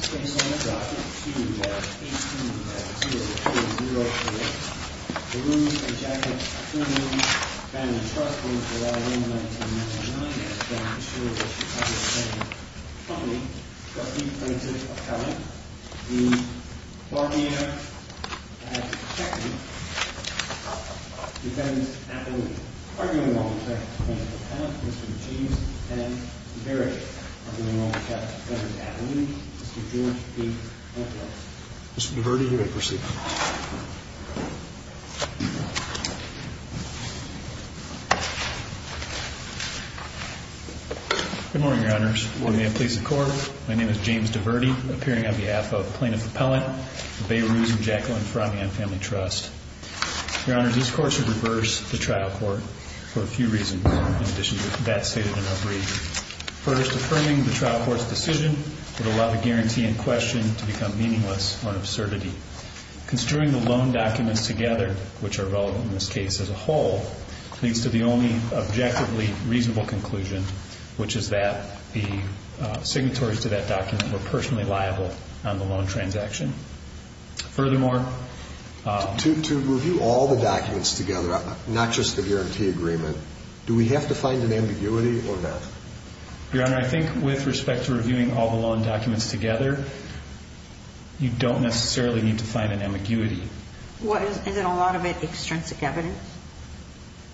Case number 52-18-2004 Behrouz and Jackelin Affiliated Family Trust v. Ryan 1999 Behrouz and Jackelin Affiliated Family Trust v. Ryan 1999 Good morning, Your Honors. On behalf of the police and court, my name is James DeVerti, appearing on behalf of Plaintiff Appellant of Behrouz and Jackelin Family Trust. Your Honors, these courts have reversed the trial court for a few reasons, in addition to that stated in our brief. First, affirming the trial court's decision would allow the guarantee in question to become meaningless or an absurdity. Construing the loan documents together, which are relevant in this case as a whole, leads to the only objectively reasonable conclusion, which is that the signatories to that document were personally liable on the loan transaction. Furthermore... To review all the documents together, not just the guarantee agreement, do we have to find an ambiguity or not? Your Honor, I think with respect to reviewing all the loan documents together, you don't necessarily need to find an ambiguity. Well, isn't a lot of it extrinsic evidence?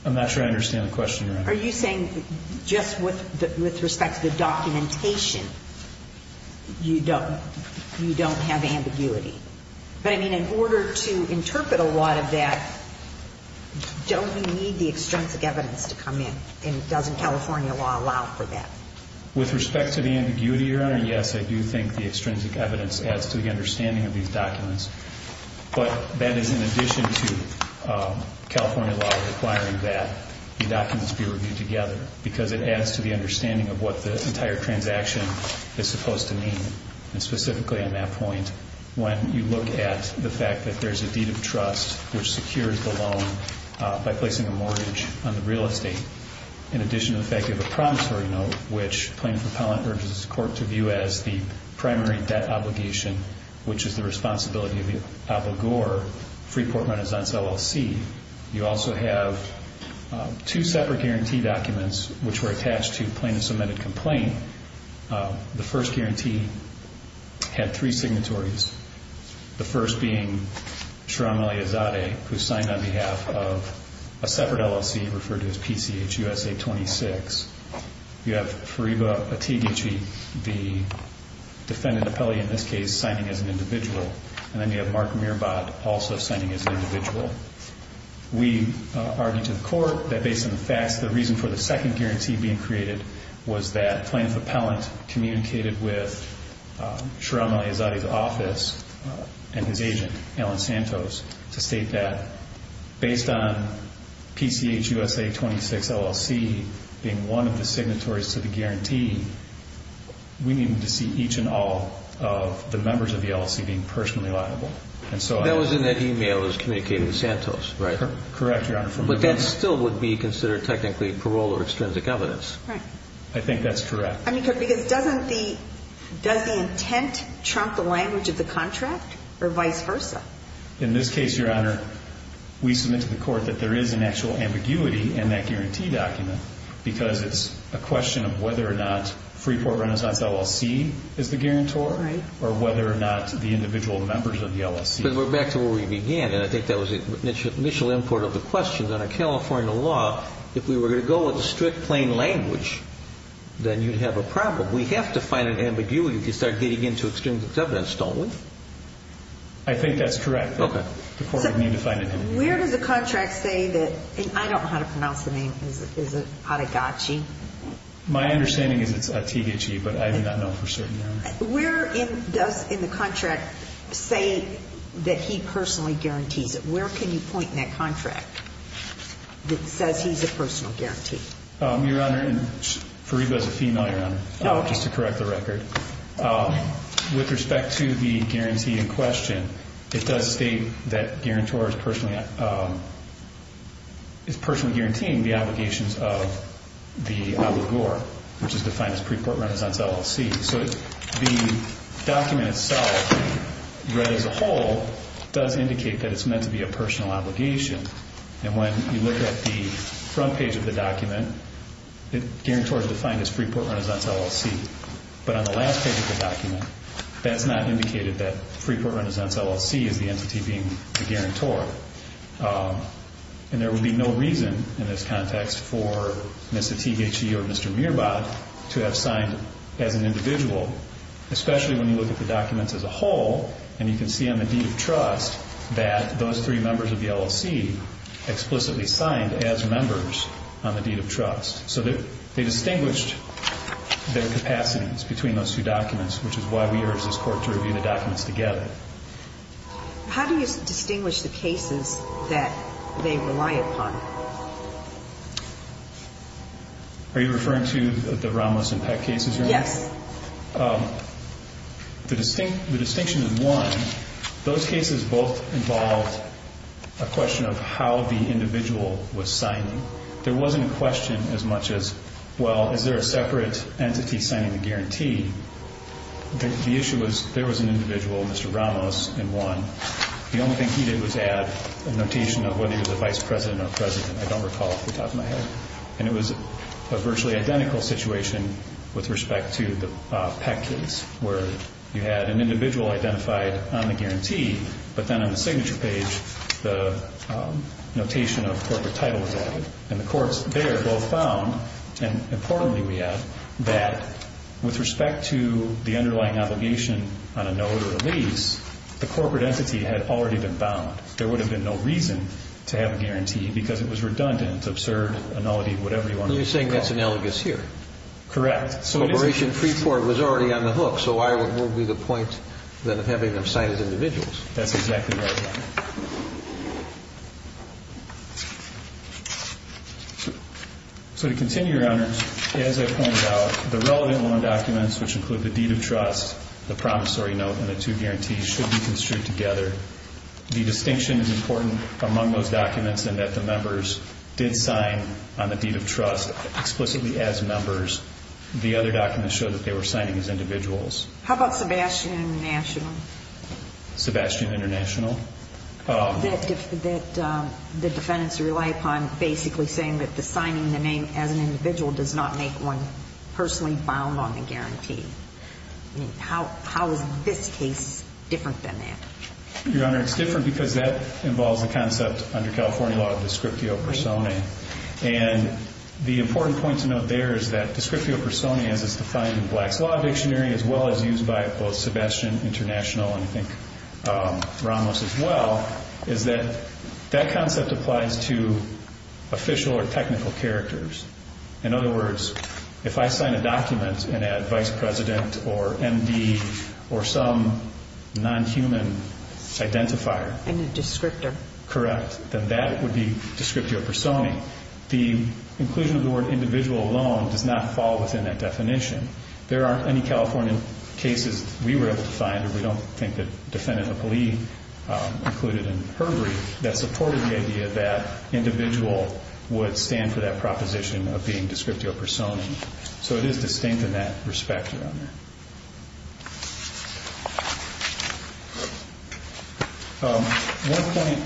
I'm not sure I understand the question, Your Honor. Are you saying just with respect to the documentation, you don't have ambiguity? But, I mean, in order to interpret a lot of that, don't you need the extrinsic evidence to come in? And doesn't California law allow for that? With respect to the ambiguity, Your Honor, yes, I do think the extrinsic evidence adds to the understanding of these documents. But that is in addition to California law requiring that the documents be reviewed together, because it adds to the understanding of what the entire transaction is supposed to mean. And specifically on that point, when you look at the fact that there's a deed of trust, which secures the loan by placing a mortgage on the real estate, in addition to the fact you have a promissory note, which Plaintiff Appellant urges the court to view as the primary debt obligation, which is the responsibility of the obligor free port renaissance LLC. You also have two separate guarantee documents, which were attached to plaintiff's amended complaint. The first guarantee had three signatories. The first being Sharam Ali Azadeh, who signed on behalf of a separate LLC referred to as PCH USA 26. You have Fariba Atiguchi, the defendant appellee in this case, signing as an individual. And then you have Mark Mirabat also signing as an individual. We argued to the court that based on the facts, the reason for the second guarantee being created was that Plaintiff Appellant communicated with Sharam Ali Azadeh's office and his agent, Alan Santos, to state that based on PCH USA 26 LLC being one of the signatories to the guarantee, we needed to see each and all of the members of the LLC being personally liable. And so that was in that e-mail that was communicated to Santos, right? Correct, Your Honor. But that still would be considered technically parole or extrinsic evidence. Right. I think that's correct. Because doesn't the intent trump the language of the contract or vice versa? In this case, Your Honor, we submit to the court that there is an actual ambiguity in that guarantee document because it's a question of whether or not free port renaissance LLC is the guarantor or whether or not the individual members of the LLC are. Because we're back to where we began, and I think that was the initial import of the question. Under California law, if we were going to go with a strict plain language, then you'd have a problem. We have to find an ambiguity if you start getting into extrinsic evidence, don't we? I think that's correct. Okay. The court would need to find an ambiguity. Where does the contract say that? I don't know how to pronounce the name. Is it Adegachi? Where does in the contract say that he personally guarantees it? Where can you point in that contract that says he's a personal guarantee? Your Honor, Fariba is a female, Your Honor, just to correct the record. Okay. With respect to the guarantee in question, it does state that guarantor is personally guaranteeing the obligations of the abogor, which is defined as free port renaissance LLC. So the document itself, read as a whole, does indicate that it's meant to be a personal obligation. And when you look at the front page of the document, the guarantor is defined as free port renaissance LLC. But on the last page of the document, that's not indicated that free port renaissance LLC is the entity being the guarantor. And there would be no reason in this context for Mr. Adegachi or Mr. Mirabat to have signed as an individual, especially when you look at the documents as a whole. And you can see on the deed of trust that those three members of the LLC explicitly signed as members on the deed of trust. So they distinguished their capacities between those two documents, which is why we urged this court to review the documents together. How do you distinguish the cases that they rely upon? Are you referring to the Ramos and Peck cases here? Yes. The distinction is, one, those cases both involved a question of how the individual was signing. There wasn't a question as much as, well, is there a separate entity signing the guarantee? The issue was there was an individual, Mr. Ramos, and one. The only thing he did was add a notation of whether he was a vice president or president. I don't recall off the top of my head. And it was a virtually identical situation with respect to the Peck case, where you had an individual identified on the guarantee, but then on the signature page the notation of corporate title was added. And the courts there both found, and importantly we have, that with respect to the underlying obligation on a nullity release, the corporate entity had already been bound. There would have been no reason to have a guarantee because it was redundant, absurd, nullity, whatever you want to call it. So you're saying that's analogous here? Correct. So Operation Freeport was already on the hook, so why wouldn't it be the point of having them signed as individuals? That's exactly right. So to continue, Your Honor, as I pointed out, the relevant loan documents, which include the deed of trust, the promissory note, and the two guarantees should be construed together. The distinction is important among those documents in that the members did sign on the deed of trust explicitly as members. The other documents show that they were signing as individuals. How about Sebastian International? Sebastian International? The defendants rely upon basically saying that the signing the name as an individual does not make one personally bound on the guarantee. How is this case different than that? Your Honor, it's different because that involves the concept under California law of descriptio personae. And the important point to note there is that descriptio personae, as it's defined in Black's Law Dictionary, as well as used by both Sebastian International and I think Ramos as well, is that that concept applies to official or technical characters. In other words, if I sign a document and add vice president or MD or some non-human identifier. And a descriptor. Correct. Then that would be descriptio personae. The inclusion of the word individual alone does not fall within that definition. There aren't any California cases we were able to find. And we don't think that Defendant Hopley included in her brief that supported the idea that individual would stand for that proposition of being descriptio personae. So it is distinct in that respect, Your Honor. One point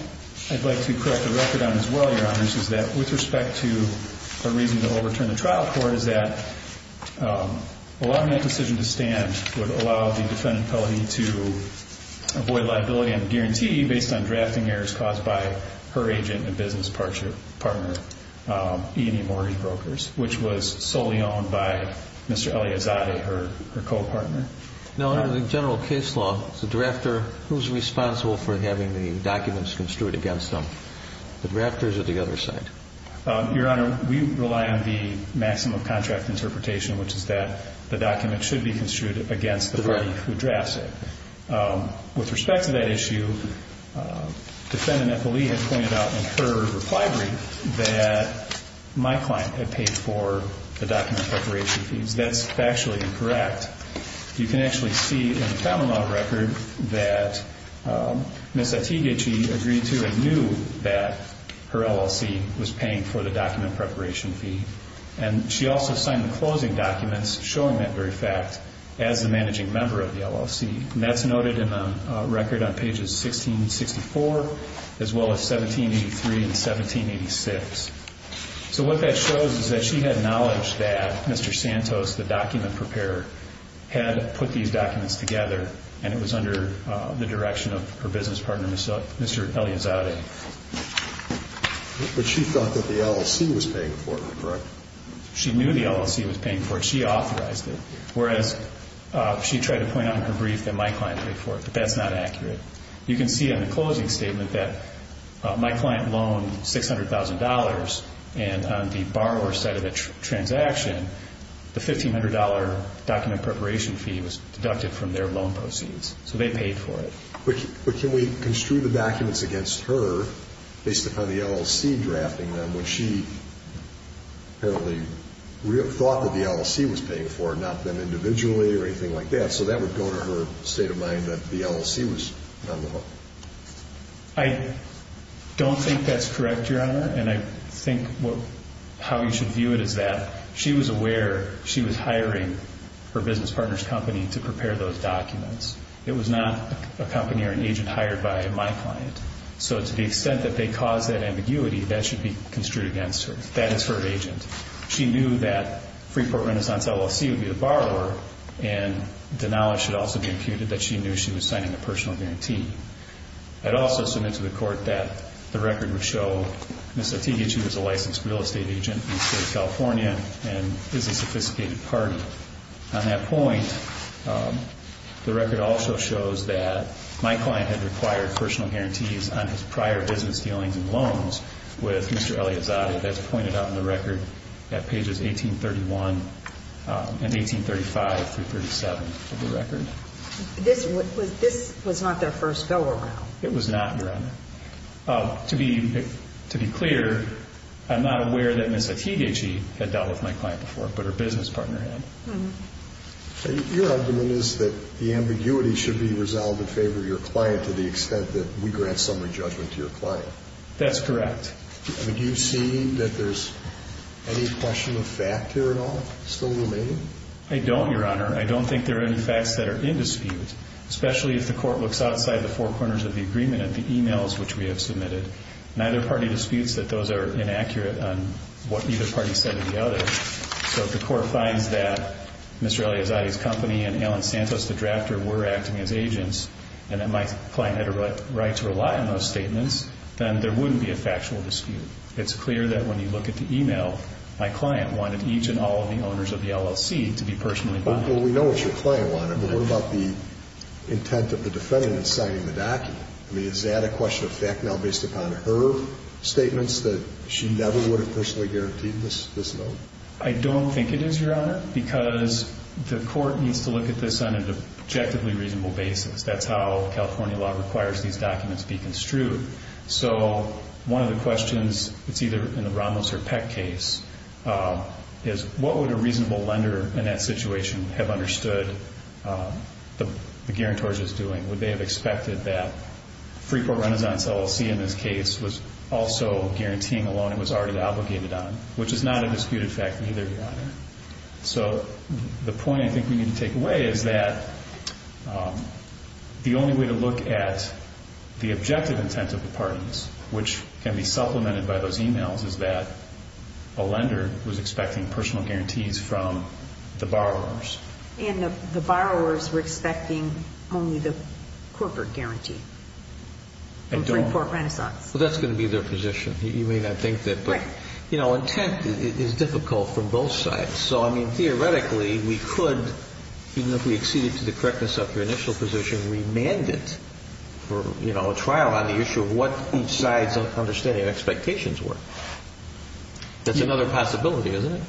I'd like to correct the record on as well, Your Honors, is that with respect to a reason to overturn the trial court, is that allowing that decision to stand would allow the defendant, Hopley, to avoid liability and guarantee based on drafting errors caused by her agent and business partner, E&E Mortgage Brokers, which was solely owned by Mr. Eliazade, her co-partner. Now, under the general case law, the drafter, who's responsible for having the documents construed against them? The drafters or the other side? Your Honor, we rely on the maximum contract interpretation, which is that the document should be construed against the party who drafts it. With respect to that issue, Defendant Hopley has pointed out in her reply brief that my client had paid for the document preparation fees. That's factually incorrect. In fact, you can actually see in the Kammermann record that Ms. Atiguechi agreed to and knew that her LLC was paying for the document preparation fee. And she also signed the closing documents showing that very fact as the managing member of the LLC. And that's noted in the record on pages 16 and 64, as well as 1783 and 1786. So what that shows is that she had knowledge that Mr. Santos, the document preparer, had put these documents together, and it was under the direction of her business partner, Mr. Eliazade. But she thought that the LLC was paying for it, correct? She knew the LLC was paying for it. She authorized it, whereas she tried to point out in her brief that my client paid for it. But that's not accurate. You can see on the closing statement that my client loaned $600,000. And on the borrower's side of the transaction, the $1,500 document preparation fee was deducted from their loan proceeds. So they paid for it. But can we construe the documents against her based upon the LLC drafting them when she apparently thought that the LLC was paying for it, not them individually or anything like that? So that would go to her state of mind that the LLC was on the hook. I don't think that's correct, Your Honor. And I think how you should view it is that she was aware she was hiring her business partner's company to prepare those documents. It was not a company or an agent hired by my client. So to the extent that they caused that ambiguity, that should be construed against her. That is her agent. She knew that Freeport Renaissance LLC would be the borrower, and the knowledge should also be imputed that she knew she was signing a personal guarantee. I'd also submit to the court that the record would show Ms. Satiegi, she was a licensed real estate agent in the state of California and is a sophisticated party. On that point, the record also shows that my client had required personal guarantees on his prior business dealings with Mr. Eliazadeh, as pointed out in the record at pages 1831 and 1835 through 1837 of the record. This was not their first go-around? It was not, Your Honor. To be clear, I'm not aware that Ms. Satiegi had dealt with my client before, but her business partner had. Your argument is that the ambiguity should be resolved in favor of your client to the extent that we grant summary judgment to your client. That's correct. Do you see that there's any question of fact here at all still remaining? I don't, Your Honor. I don't think there are any facts that are in dispute, especially if the court looks outside the four corners of the agreement at the e-mails which we have submitted. Neither party disputes that those are inaccurate on what either party said of the other. So if the court finds that Mr. Eliazadeh's company and Alan Santos, the drafter, were acting as agents and that my client had a right to rely on those statements, then there wouldn't be a factual dispute. It's clear that when you look at the e-mail, my client wanted each and all of the owners of the LLC to be personally bonded. Well, we know what your client wanted, but what about the intent of the defendant in signing the document? I mean, is that a question of fact now based upon her statements that she never would have personally guaranteed this note? I don't think it is, Your Honor, because the court needs to look at this on an objectively reasonable basis. That's how California law requires these documents be construed. So one of the questions, it's either in the Ramos or Peck case, is what would a reasonable lender in that situation have understood the guarantors is doing? Would they have expected that Freeport Renaissance LLC in this case was also guaranteeing a loan it was already obligated on, So the point I think we need to take away is that the only way to look at the objective intent of the parties, which can be supplemented by those e-mails, is that a lender was expecting personal guarantees from the borrowers. And the borrowers were expecting only the corporate guarantee from Freeport Renaissance. Well, that's going to be their position. You may not think that, but, you know, intent is difficult from both sides. So, I mean, theoretically, we could, even if we acceded to the correctness of your initial position, remand it for a trial on the issue of what each side's understanding and expectations were. That's another possibility, isn't it?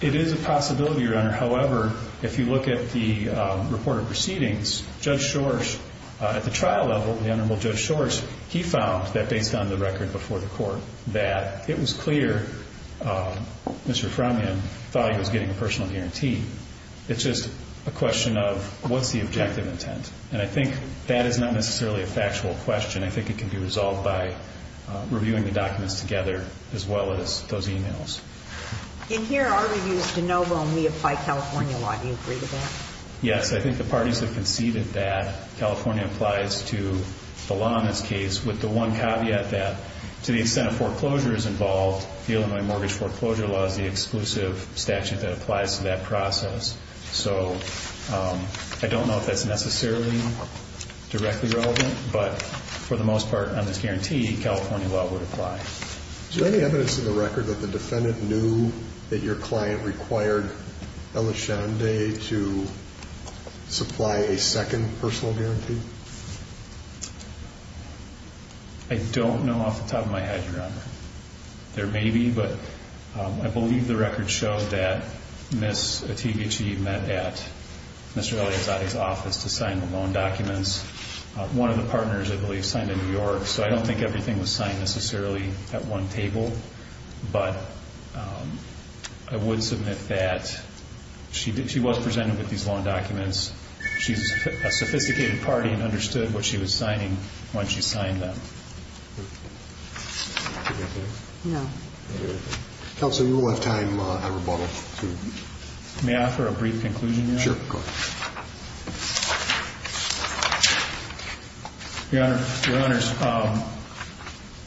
It is a possibility, Your Honor. However, if you look at the reported proceedings, Judge Shores, at the trial level, he found that based on the record before the court that it was clear Mr. Frommian thought he was getting a personal guarantee. It's just a question of what's the objective intent. And I think that is not necessarily a factual question. I think it can be resolved by reviewing the documents together as well as those e-mails. In here, our review is de novo and we apply California law. Do you agree with that? Yes, I think the parties have conceded that California applies to the law in this case, with the one caveat that to the extent that foreclosure is involved, the Illinois Mortgage Foreclosure Law is the exclusive statute that applies to that process. So, I don't know if that's necessarily directly relevant, but for the most part on this guarantee, California law would apply. Is there any evidence in the record that the defendant knew that your client required Elishande to supply a second personal guarantee? I don't know off the top of my head, Your Honor. There may be, but I believe the record showed that Ms. Attivici met at Mr. Eliazade's office to sign the loan documents. One of the partners, I believe, signed in New York, so I don't think everything was signed necessarily at one table, but I would submit that she was presented with these loan documents. She's a sophisticated party and understood what she was signing when she signed them. Counsel, you will have time on rebuttal. May I offer a brief conclusion, Your Honor? Sure, go ahead. Your Honor,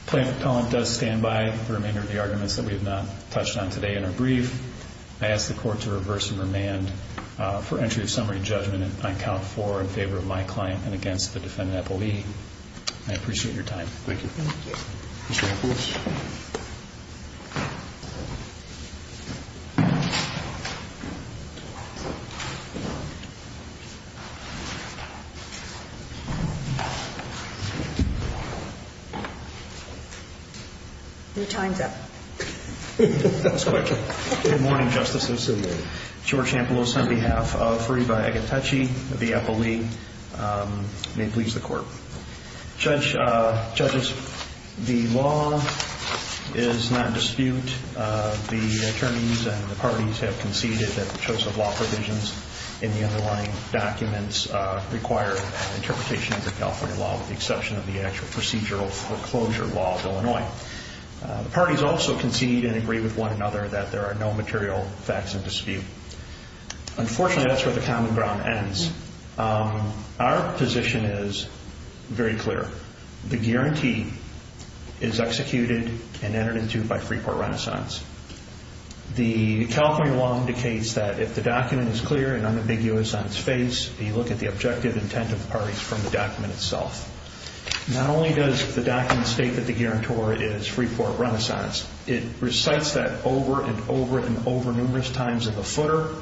plaintiff's appellant does stand by the remainder of the arguments that we have not touched on today in her brief. I ask the Court to reverse and remand for entry of summary judgment on count four in favor of my client and against the defendant, I believe. I appreciate your time. Thank you. Mr. Ampelos? Your time's up. That was quick. Good morning, Justice. I'm sorry. George Ampelos on behalf of Fariba Agatechi of the Apple League. May it please the Court. Judges, the law is not in dispute. The attorneys and the parties have conceded that the choice of law provisions in the underlying documents require interpretation of the California law with the exception of the actual procedural foreclosure law of Illinois. The parties also concede and agree with one another that there are no material facts in dispute. Unfortunately, that's where the common ground ends. Our position is very clear. The guarantee is executed and entered into by Freeport Renaissance. The California law indicates that if the document is clear and unambiguous on its face, you look at the objective intent of the parties from the document itself. Not only does the document state that the guarantor is Freeport Renaissance, it recites that over and over and over numerous times in the footer.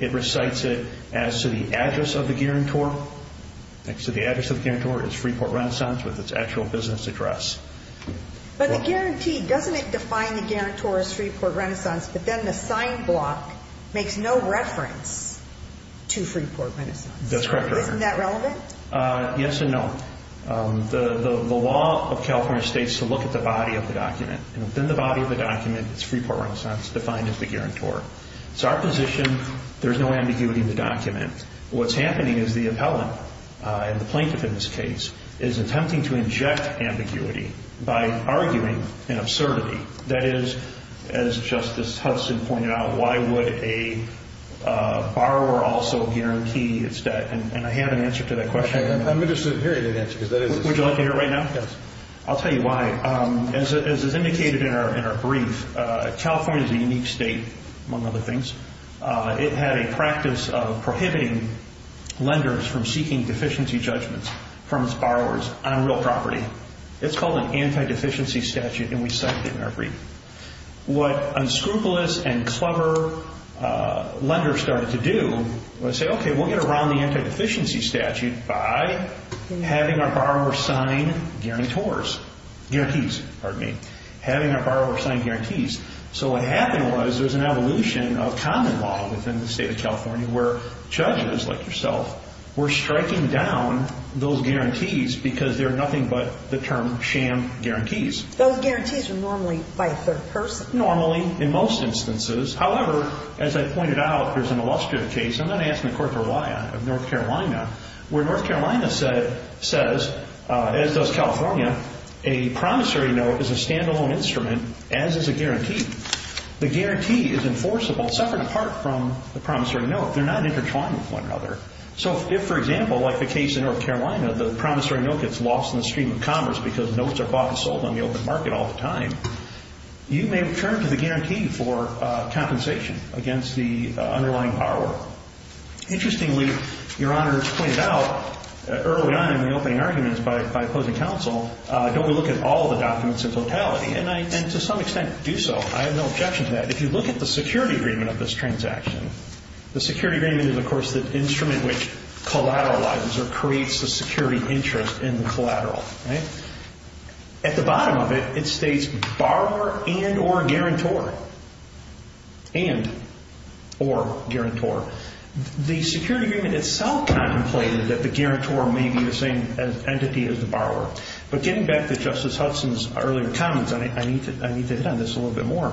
It recites it as to the address of the guarantor. So the address of the guarantor is Freeport Renaissance with its actual business address. But the guarantee, doesn't it define the guarantor as Freeport Renaissance, but then the sign block makes no reference to Freeport Renaissance? That's correct, Your Honor. Isn't that relevant? Yes and no. The law of California states to look at the body of the document. And within the body of the document, it's Freeport Renaissance defined as the guarantor. It's our position there's no ambiguity in the document. What's happening is the appellant, and the plaintiff in this case, is attempting to inject ambiguity by arguing an absurdity. That is, as Justice Hudson pointed out, why would a borrower also guarantee its debt? And I have an answer to that question. Let me just hear that answer. Would you like to hear it right now? Yes. I'll tell you why. As is indicated in our brief, California is a unique state, among other things. It had a practice of prohibiting lenders from seeking deficiency judgments from its borrowers on real property. It's called an anti-deficiency statute, and we cite it in our brief. What unscrupulous and clever lenders started to do was say, okay, we'll get around the anti-deficiency statute by having our borrower sign guarantees. So what happened was there was an evolution of common law within the state of California where judges like yourself were striking down those guarantees because they're nothing but the term sham guarantees. Those guarantees are normally by a third person. Normally, in most instances. However, as I pointed out, there's an illustrative case, and I'm going to ask the court for why, of North Carolina, where North Carolina says, as does California, a promissory note is a stand-alone instrument, as is a guarantee. The guarantee is enforceable separate and apart from the promissory note. They're not intertwined with one another. So if, for example, like the case in North Carolina, the promissory note gets lost in the stream of commerce because notes are bought and sold on the open market all the time, you may return to the guarantee for compensation against the underlying borrower. Interestingly, Your Honor pointed out early on in the opening arguments by opposing counsel, don't we look at all the documents in totality? And to some extent do so. I have no objection to that. If you look at the security agreement of this transaction, the security agreement is, of course, the instrument which collateralizes or creates the security interest in the collateral. At the bottom of it, it states borrower and or guarantor. And or guarantor. The security agreement itself contemplated that the guarantor may be the same entity as the borrower. But getting back to Justice Hudson's earlier comments, I need to hit on this a little bit more.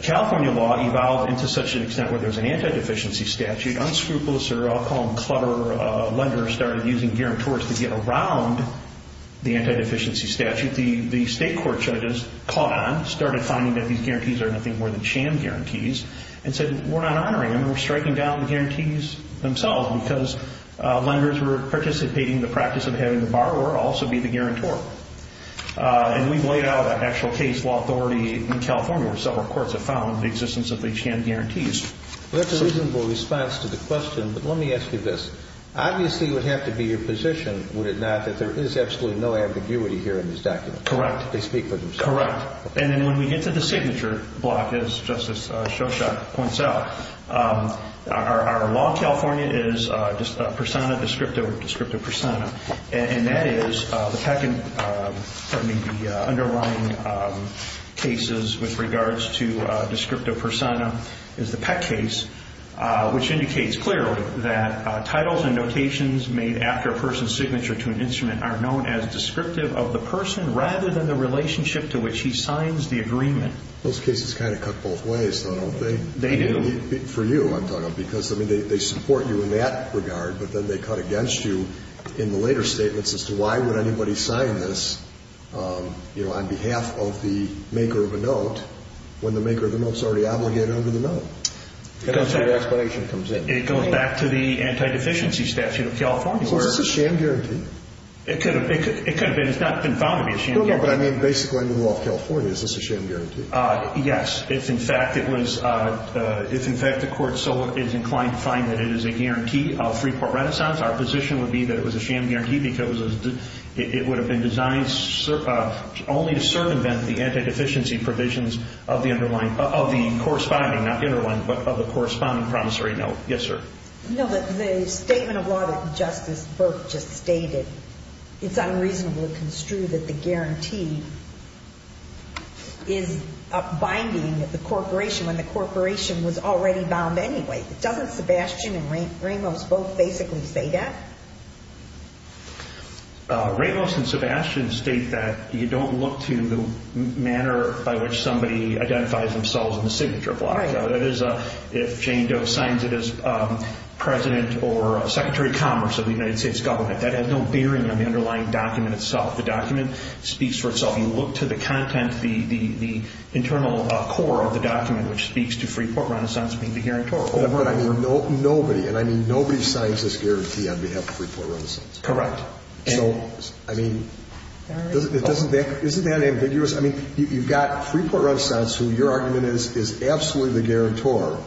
California law evolved into such an extent where there's an anti-deficiency statute. The unscrupulous or I'll call them clever lender started using guarantors to get around the anti-deficiency statute. The state court judges caught on, started finding that these guarantees are nothing more than sham guarantees, and said we're not honoring them, we're striking down the guarantees themselves because lenders who are participating in the practice of having the borrower also be the guarantor. And we've laid out an actual case law authority in California where several courts have found the existence of the sham guarantees. That's a reasonable response to the question, but let me ask you this. Obviously, it would have to be your position, would it not, that there is absolutely no ambiguity here in this document? Correct. They speak for themselves. Correct. And then when we get to the signature block, as Justice Shoshot points out, our law in California is persona descripto, descripto persona. And that is the underlying cases with regards to descripto persona is the Peck case, which indicates clearly that titles and notations made after a person's signature to an instrument are known as descriptive of the person rather than the relationship to which he signs the agreement. Those cases kind of cut both ways, though, don't they? They do. For you, I'm talking about, because they support you in that regard, but then they cut against you in the later statements as to why would anybody sign this, you know, on behalf of the maker of a note when the maker of the note is already obligated under the note. That's where your explanation comes in. It goes back to the anti-deficiency statute of California. Well, is this a sham guarantee? It could have been. It's not been found to be a sham guarantee. No, no, but I mean basically under the law of California. Is this a sham guarantee? Yes. If, in fact, it was, if, in fact, the court is inclined to find that it is a guarantee of free port renaissance, our position would be that it was a sham guarantee because it would have been designed only to circumvent the anti-deficiency provisions of the underlying, of the corresponding, not the underlying, but of the corresponding promissory note. Yes, sir. No, the statement of law that Justice Burke just stated, it's unreasonable to construe that the guarantee is binding the corporation when the corporation was already bound anyway. Doesn't Sebastian and Ramos both basically say that? Ramos and Sebastian state that you don't look to the manner by which somebody identifies themselves in the signature of law. That is, if Jane Doe signs it as president or secretary of commerce of the United States government, that has no bearing on the underlying document itself. The document speaks for itself. You look to the content, the internal core of the document, which speaks to free port renaissance being the guarantor. Oh, but I mean nobody, and I mean nobody signs this guarantee on behalf of free port renaissance. Correct. So, I mean, isn't that ambiguous? I mean, you've got free port renaissance, who your argument is, is absolutely the guarantor,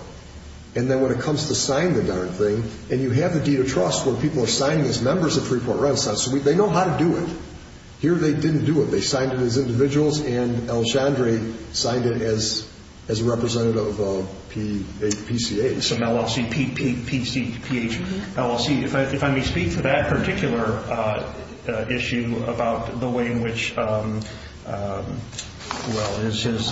and then when it comes to sign the darn thing, and you have the deed of trust where people are signing as members of free port renaissance. They know how to do it. Here they didn't do it. They signed it as individuals, and El Chandra signed it as representative of PCA. So, LLC, P-C-P-H, LLC. If I may speak to that particular issue about the way in which, well, his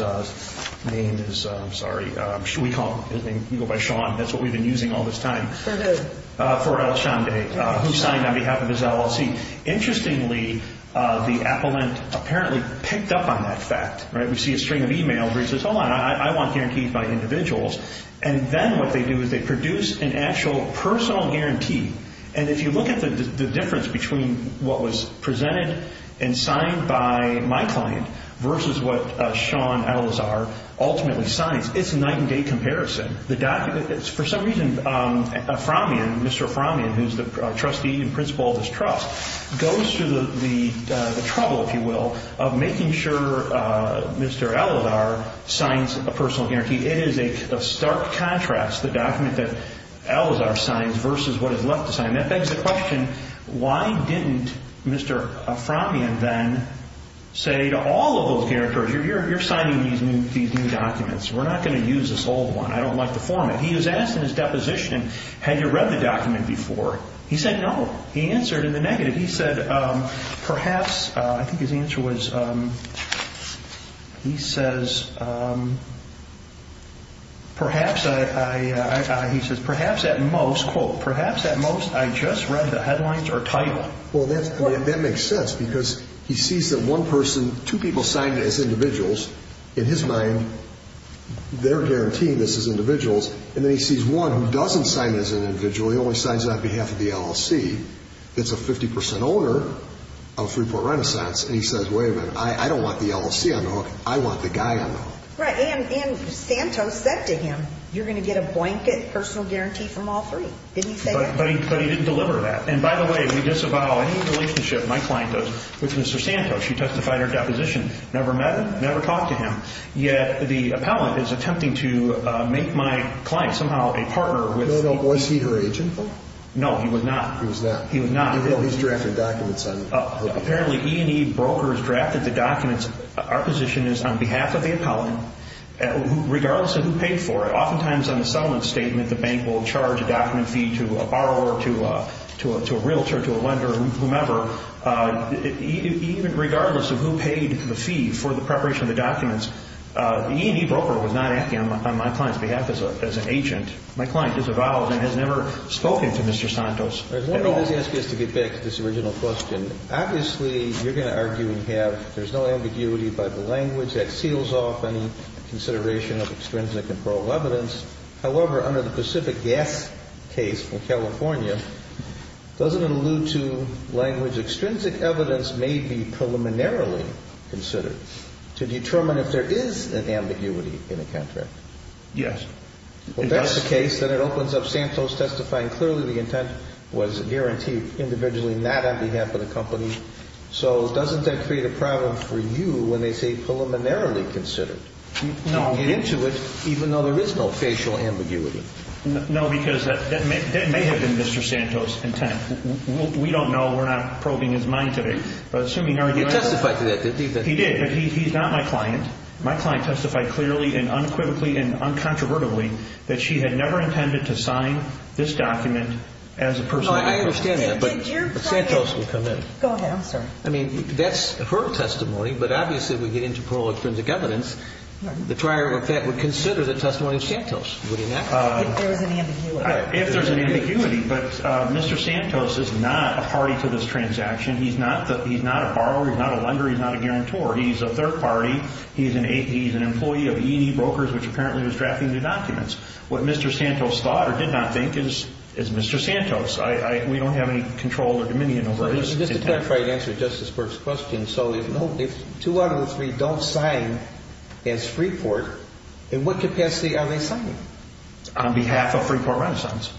name is, I'm sorry, you go by Sean, that's what we've been using all this time. For who? For El Chandra, who signed on behalf of his LLC. Interestingly, the appellant apparently picked up on that fact. We see a string of e-mails where he says, hold on, I want guarantees by individuals, and then what they do is they produce an actual personal guarantee, and if you look at the difference between what was presented and signed by my client versus what Sean Alizar ultimately signs, it's a night and day comparison. For some reason, Mr. Aframian, who's the trustee and principal of this trust, goes through the trouble, if you will, of making sure Mr. Alizar signs a personal guarantee. It is a stark contrast, the document that Alizar signs versus what is left to sign. That begs the question, why didn't Mr. Aframian then say to all of those guarantors, you're signing these new documents. We're not going to use this old one. I don't like the format. He was asked in his deposition, had you read the document before? He said no. He answered in the negative. He said, perhaps, I think his answer was, he says, perhaps at most, quote, perhaps at most I just read the headlines or title. Well, that makes sense because he sees that one person, two people signed as individuals, in his mind they're guaranteeing this as individuals, and then he sees one who doesn't sign as an individual, he only signs on behalf of the LLC. It's a 50% owner of Freeport Renaissance, and he says, wait a minute, I don't want the LLC on the hook. I want the guy on the hook. Right, and Santos said to him, you're going to get a blanket personal guarantee from all three. Didn't he say that? But he didn't deliver that. And by the way, we disavow any relationship, my client does, with Mr. Santos. She testified in her deposition, never met him, never talked to him, yet the appellant is attempting to make my client somehow a partner with the LLC. Was he her agent, though? No, he was not. He was not. He was not. He's drafting documents on the hook. Apparently E&E brokers drafted the documents. Our position is on behalf of the appellant, regardless of who paid for it, oftentimes on the settlement statement the bank will charge a document fee to a borrower, to a realtor, to a lender, whomever. Even regardless of who paid the fee for the preparation of the documents, the E&E broker was not acting on my client's behalf as an agent. My client disavows and has never spoken to Mr. Santos at all. Let me just ask you this to get back to this original question. Obviously, you're going to argue we have, there's no ambiguity by the language that seals off any consideration of extrinsic and probable evidence. However, under the Pacific Gas case from California, doesn't it allude to language extrinsic evidence may be preliminarily considered to determine if there is an ambiguity in a contract? Yes. Well, if that's the case, then it opens up Santos testifying clearly the intent was guaranteed individually, not on behalf of the company. So doesn't that create a problem for you when they say preliminarily considered? No. You get into it even though there is no facial ambiguity. No, because that may have been Mr. Santos' intent. We don't know. We're not probing his mind today. You testified to that, didn't you? He did, but he's not my client. My client testified clearly and unequivocally and uncontrovertibly that she had never intended to sign this document as a personal interest. I understand that, but Santos will come in. Go ahead. I'm sorry. I mean, that's her testimony, but obviously if we get into parole extrinsic evidence, the trier of that would consider the testimony of Santos. Would he not? If there was an ambiguity. If there's an ambiguity, but Mr. Santos is not a party to this transaction. He's not a borrower. He's not a lender. He's not a guarantor. He's a third party. He's an employee of E&E Brokers, which apparently was drafting the documents. What Mr. Santos thought or did not think is Mr. Santos. We don't have any control or dominion over his intent. Just to clarify and answer Justice Burke's question, so if two out of the three don't sign as Freeport, in what capacity are they signing? On behalf of Freeport Renaissance.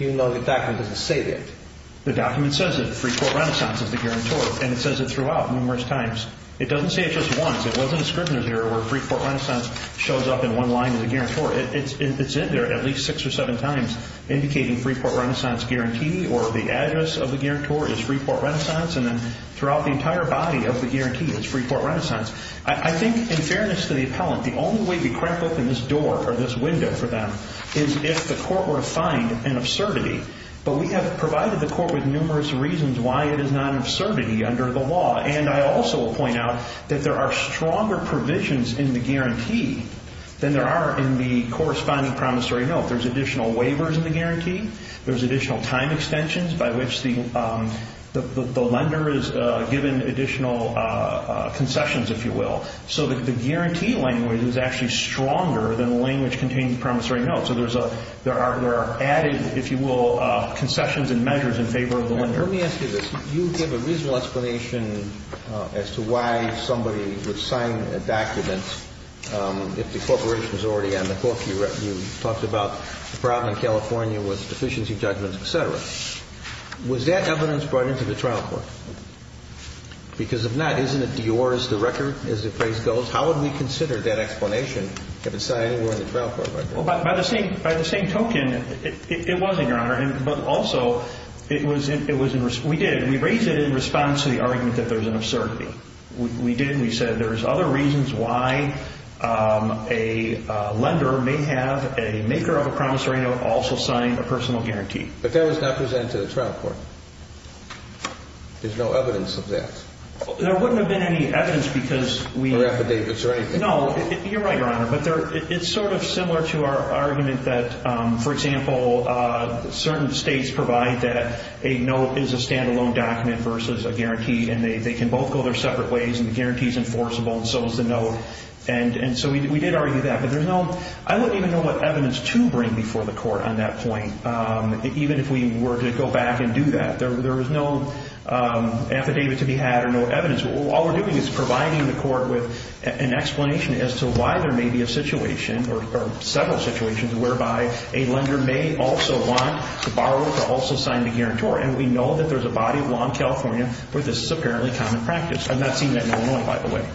Even though the document doesn't say that. The document says that Freeport Renaissance is the guarantor, and it says it throughout numerous times. It doesn't say it just once. It wasn't a scrivener's error where Freeport Renaissance shows up in one line as a guarantor. It's in there at least six or seven times, indicating Freeport Renaissance guarantee or the address of the guarantor is Freeport Renaissance, and then throughout the entire body of the guarantee is Freeport Renaissance. I think, in fairness to the appellant, the only way to crack open this door or this window for them is if the court were to find an absurdity. But we have provided the court with numerous reasons why it is not an absurdity under the law, and I also will point out that there are stronger provisions in the guarantee than there are in the corresponding promissory note. There's additional waivers in the guarantee. There's additional time extensions by which the lender is given additional concessions, if you will, so that the guarantee language is actually stronger than the language contained in the promissory note, so there are added, if you will, concessions and measures in favor of the lender. Let me ask you this. You give a reasonable explanation as to why somebody would sign a document if the corporation is already on the hook. You talked about the problem in California with deficiency judgments, et cetera. Was that evidence brought into the trial court? Because if not, isn't it yours, the record, as the phrase goes? How would we consider that explanation if it's not anywhere in the trial court record? Well, by the same token, it wasn't, Your Honor. But also, we did. We raised it in response to the argument that there's an absurdity. We did, and we said there's other reasons why a lender may have a maker of a promissory note also sign a personal guarantee. But that was not presented to the trial court. There's no evidence of that. There wouldn't have been any evidence because we— Or affidavits or anything. No, you're right, Your Honor, but it's sort of similar to our argument that, for example, certain states provide that a note is a stand-alone document versus a guarantee, and they can both go their separate ways, and the guarantee is enforceable, and so is the note. And so we did argue that. But there's no—I wouldn't even know what evidence to bring before the court on that point, even if we were to go back and do that. There was no affidavit to be had or no evidence. All we're doing is providing the court with an explanation as to why there may be a situation or several situations whereby a lender may also want the borrower to also sign the guarantor. And we know that there's a body of law in California where this is apparently common practice. I've not seen that in Illinois, by the way,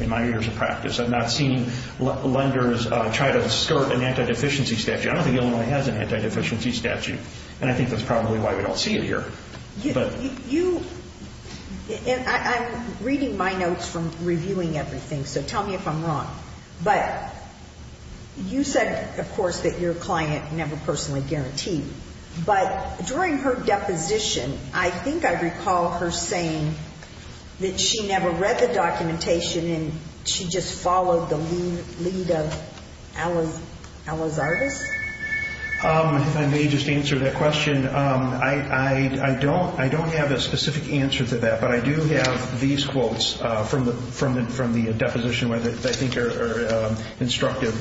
in my years of practice. I've not seen lenders try to skirt an anti-deficiency statute. I don't think Illinois has an anti-deficiency statute, and I think that's probably why we don't see it here. You—I'm reading my notes from reviewing everything, so tell me if I'm wrong. But you said, of course, that your client never personally guaranteed. But during her deposition, I think I recall her saying that she never read the documentation and she just followed the lead of Ella's artist. If I may just answer that question, I don't have a specific answer to that, but I do have these quotes from the deposition that I think are instructive.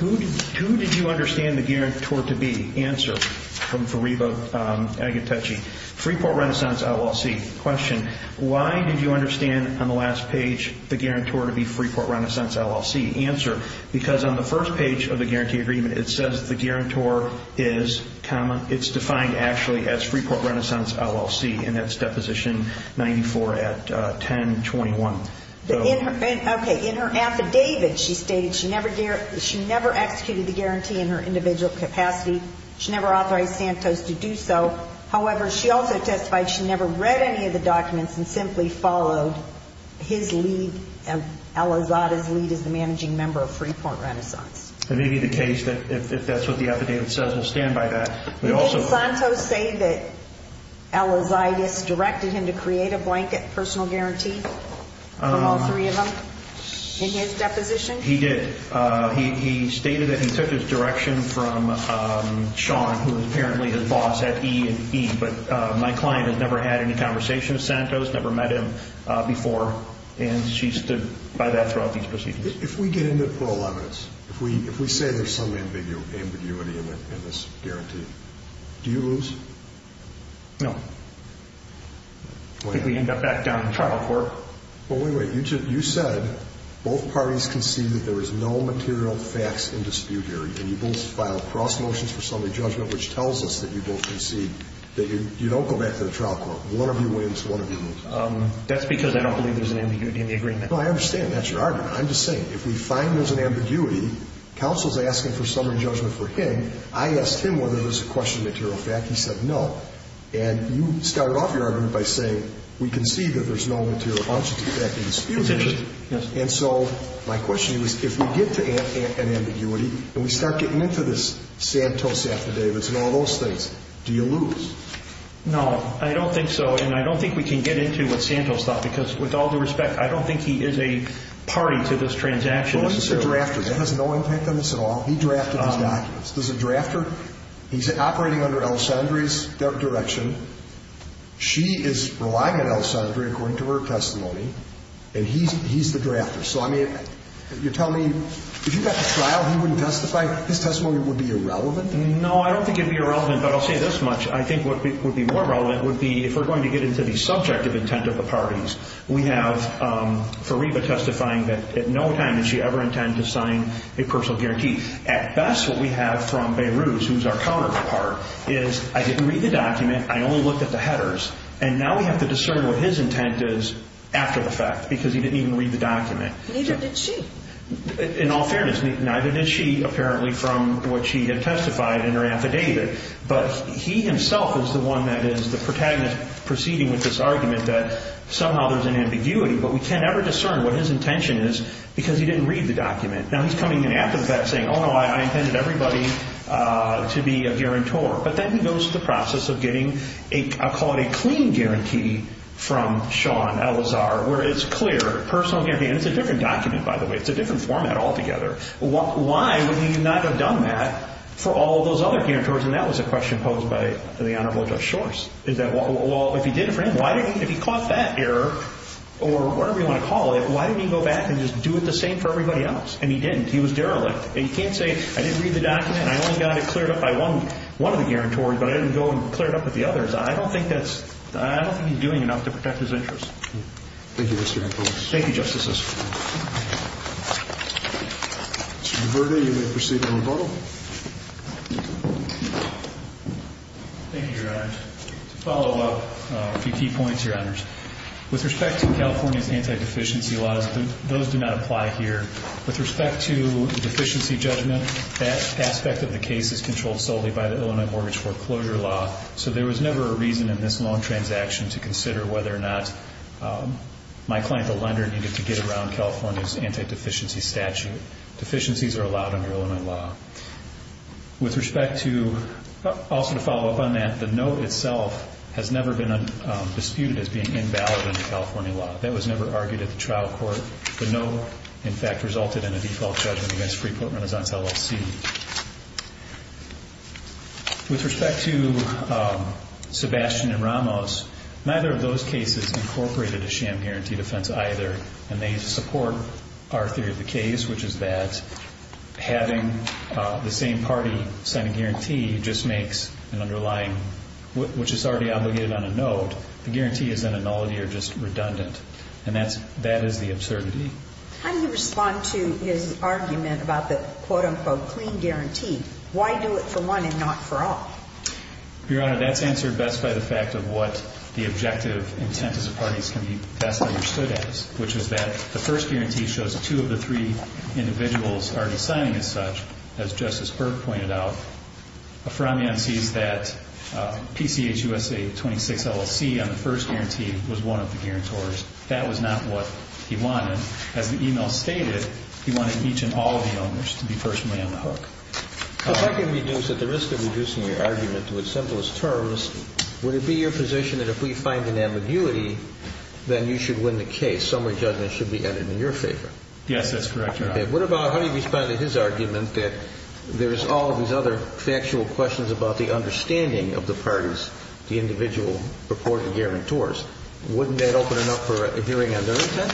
Who did you understand the guarantor to be? Answer. From Fariba Agatechi. Freeport Renaissance LLC. Question. Why did you understand on the last page the guarantor to be Freeport Renaissance LLC? Answer. Because on the first page of the guarantee agreement, it says the guarantor is common. It's defined actually as Freeport Renaissance LLC, and that's Deposition 94 at 1021. Okay. In her affidavit, she stated she never executed the guarantee in her individual capacity. She never authorized Santos to do so. However, she also testified she never read any of the documents and simply followed his lead, Ella Zada's lead as the managing member of Freeport Renaissance. It may be the case that if that's what the affidavit says, we'll stand by that. Did Santos say that Ella Zada's directed him to create a blanket personal guarantee from all three of them in his deposition? He did. He stated that he took his direction from Sean, who is apparently his boss at E&E, but my client has never had any conversation with Santos, never met him before, and she stood by that throughout these proceedings. If we get into parole evidence, if we say there's some ambiguity in this guarantee, do you lose? No. We end up back down in the trial court. Well, wait, wait. You said both parties concede that there is no material facts in dispute here, and you both filed cross motions for summary judgment, which tells us that you both concede that you don't go back to the trial court. One of you wins, one of you loses. That's because I don't believe there's an ambiguity in the agreement. No, I understand. That's your argument. I'm just saying, if we find there's an ambiguity, counsel's asking for summary judgment for him. I asked him whether there's a question of material fact. He said no. And you started off your argument by saying we concede that there's no material object in dispute here. Yes. And so my question is, if we get to an ambiguity and we start getting into this Santos after Davis and all those things, do you lose? No, I don't think so, and I don't think we can get into what Santos thought because, with all due respect, I don't think he is a party to this transaction. Well, he's a drafter. That has no impact on this at all. He drafted his documents. There's a drafter. He's operating under Alessandri's direction. She is relying on Alessandri according to her testimony, and he's the drafter. So, I mean, you're telling me if you got to trial, he wouldn't testify? His testimony would be irrelevant? No, I don't think it would be irrelevant, but I'll say this much. I think what would be more relevant would be if we're going to get into the subjective intent of the parties. We have Fariba testifying that at no time did she ever intend to sign a personal guarantee. At best, what we have from Beirut, who's our counterpart, is I didn't read the document, I only looked at the headers, and now we have to discern what his intent is after the fact because he didn't even read the document. Neither did she. In all fairness, neither did she, apparently, from what she had testified in her affidavit. But he himself is the one that is the protagonist proceeding with this argument that somehow there's an ambiguity, but we can never discern what his intention is because he didn't read the document. Now, he's coming in after the fact saying, oh, no, I intended everybody to be a guarantor. But then he goes through the process of getting, I'll call it a clean guarantee from Sean Elazar, where it's clear, personal guarantee, and it's a different document, by the way. It's a different format altogether. Why would he not have done that for all of those other guarantors? And that was a question posed by the Honorable Judge Shorts, is that, well, if he did it for him, if he caught that error or whatever you want to call it, why didn't he go back and just do it the same for everybody else? And he didn't. He was derelict. And you can't say, I didn't read the document, I only got it cleared up by one of the guarantors, but I didn't go and clear it up with the others. I don't think that's – I don't think he's doing enough to protect his interests. Thank you, Mr. Hancock. Thank you, Justices. Mr. DiVerti, you may proceed to rebuttal. Thank you, Your Honors. To follow up, a few key points, Your Honors. With respect to California's anti-deficiency laws, those do not apply here. With respect to the deficiency judgment, that aspect of the case is controlled solely by the Illinois Mortgage Foreclosure Law, so there was never a reason in this loan transaction to consider whether or not my client, the lender, needed to get around California's anti-deficiency statute. Deficiencies are allowed under Illinois law. With respect to – also to follow up on that, the note itself has never been disputed as being invalid in the California law. That was never argued at the trial court. The note, in fact, resulted in a default judgment against Freeport-Renaissance LLC. With respect to Sebastian and Ramos, neither of those cases incorporated a sham guarantee defense either, and they support our theory of the case, which is that having the same party sign a guarantee just makes an underlying – which is already obligated on a note, the guarantee is then nullity or just redundant, and that is the absurdity. How do you respond to his argument about the quote-unquote clean guarantee? Why do it for one and not for all? Your Honor, that's answered best by the fact of what the objective intent of the parties can be best understood as, which is that the first guarantee shows two of the three individuals are signing as such. As Justice Burke pointed out, Aframian sees that PCH USA 26 LLC on the first guarantee was one of the guarantors. That was not what he wanted. As the e-mail stated, he wanted each and all of the owners to be personally on the hook. If I can reduce, at the risk of reducing your argument to its simplest terms, would it be your position that if we find an ambiguity, then you should win the case? Summary judgment should be added in your favor. Yes, that's correct, Your Honor. Okay. What about how do you respond to his argument that there is all these other factual questions about the understanding of the parties, the individual purported guarantors? Wouldn't that open it up for a hearing on their intent?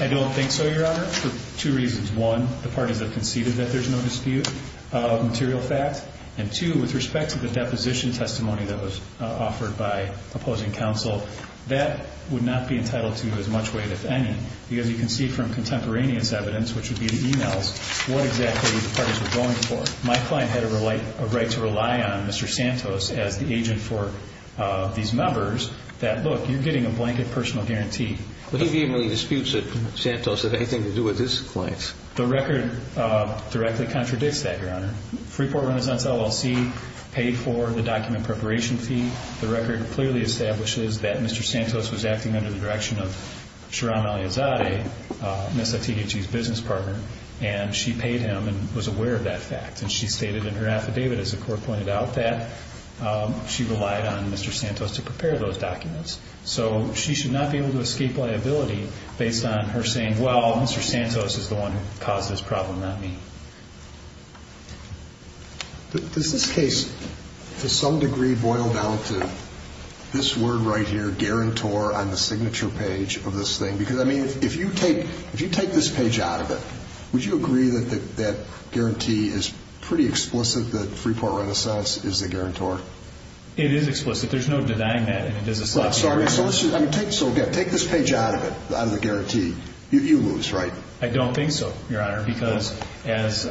I don't think so, Your Honor, for two reasons. One, the parties have conceded that there's no dispute of material fact. And two, with respect to the deposition testimony that was offered by opposing counsel, that would not be entitled to as much weight, if any, because you can see from contemporaneous evidence, which would be the e-mails, what exactly the parties were going for. My client had a right to rely on Mr. Santos as the agent for these members that, look, you're getting a blanket personal guarantee. Would he be in any disputes that Santos had anything to do with his clients? The record directly contradicts that, Your Honor. Freeport-Renaissance LLC paid for the document preparation fee. The record clearly establishes that Mr. Santos was acting under the direction of Shiram Aliazade, Ms. Atiguchi's business partner, and she paid him and was aware of that fact. And she stated in her affidavit, as the court pointed out, that she relied on Mr. Santos to prepare those documents. So she should not be able to escape liability based on her saying, well, Mr. Santos is the one who caused this problem, not me. Does this case, to some degree, boil down to this word right here, the guarantor on the signature page of this thing? Because, I mean, if you take this page out of it, would you agree that that guarantee is pretty explicit that Freeport-Renaissance is the guarantor? It is explicit. There's no denying that. I'm sorry. So, again, take this page out of it, out of the guarantee. You lose, right? I don't think so, Your Honor, because as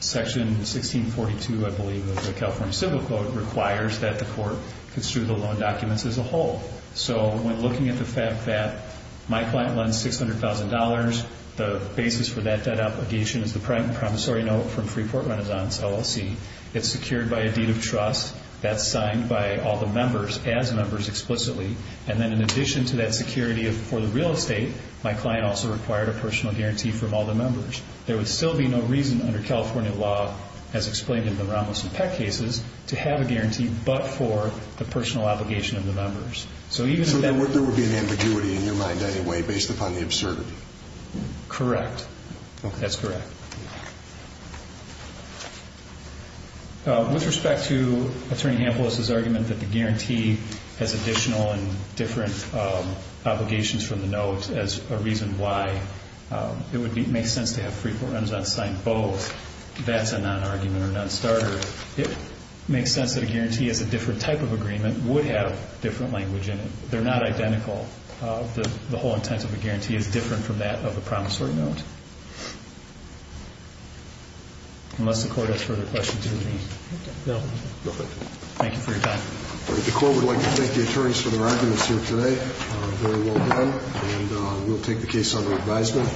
Section 1642, I believe, of the California Civil Code, requires that the court construe the loan documents as a whole. So when looking at the fact that my client lends $600,000, the basis for that debt obligation is the promissory note from Freeport-Renaissance, LLC. It's secured by a deed of trust. That's signed by all the members as members explicitly. And then in addition to that security for the real estate, my client also required a personal guarantee from all the members. There would still be no reason under California law, as explained in the Ramos and Peck cases, to have a guarantee but for the personal obligation of the members. So even if that were true. So there would be an ambiguity in your mind anyway based upon the absurdity? Correct. Okay. That's correct. With respect to Attorney Hampel's argument that the guarantee has additional and different obligations from the note as a reason why it would make sense to have Freeport-Renaissance sign both, that's a non-argument or a non-starter. It makes sense that a guarantee as a different type of agreement would have different language in it. They're not identical. The whole intent of a guarantee is different from that of a promissory note. Unless the Court has further questions, do you have any? No. Thank you for your time. The Court would like to thank the attorneys for their evidence here today. Very well done. And we'll take the case under advisement.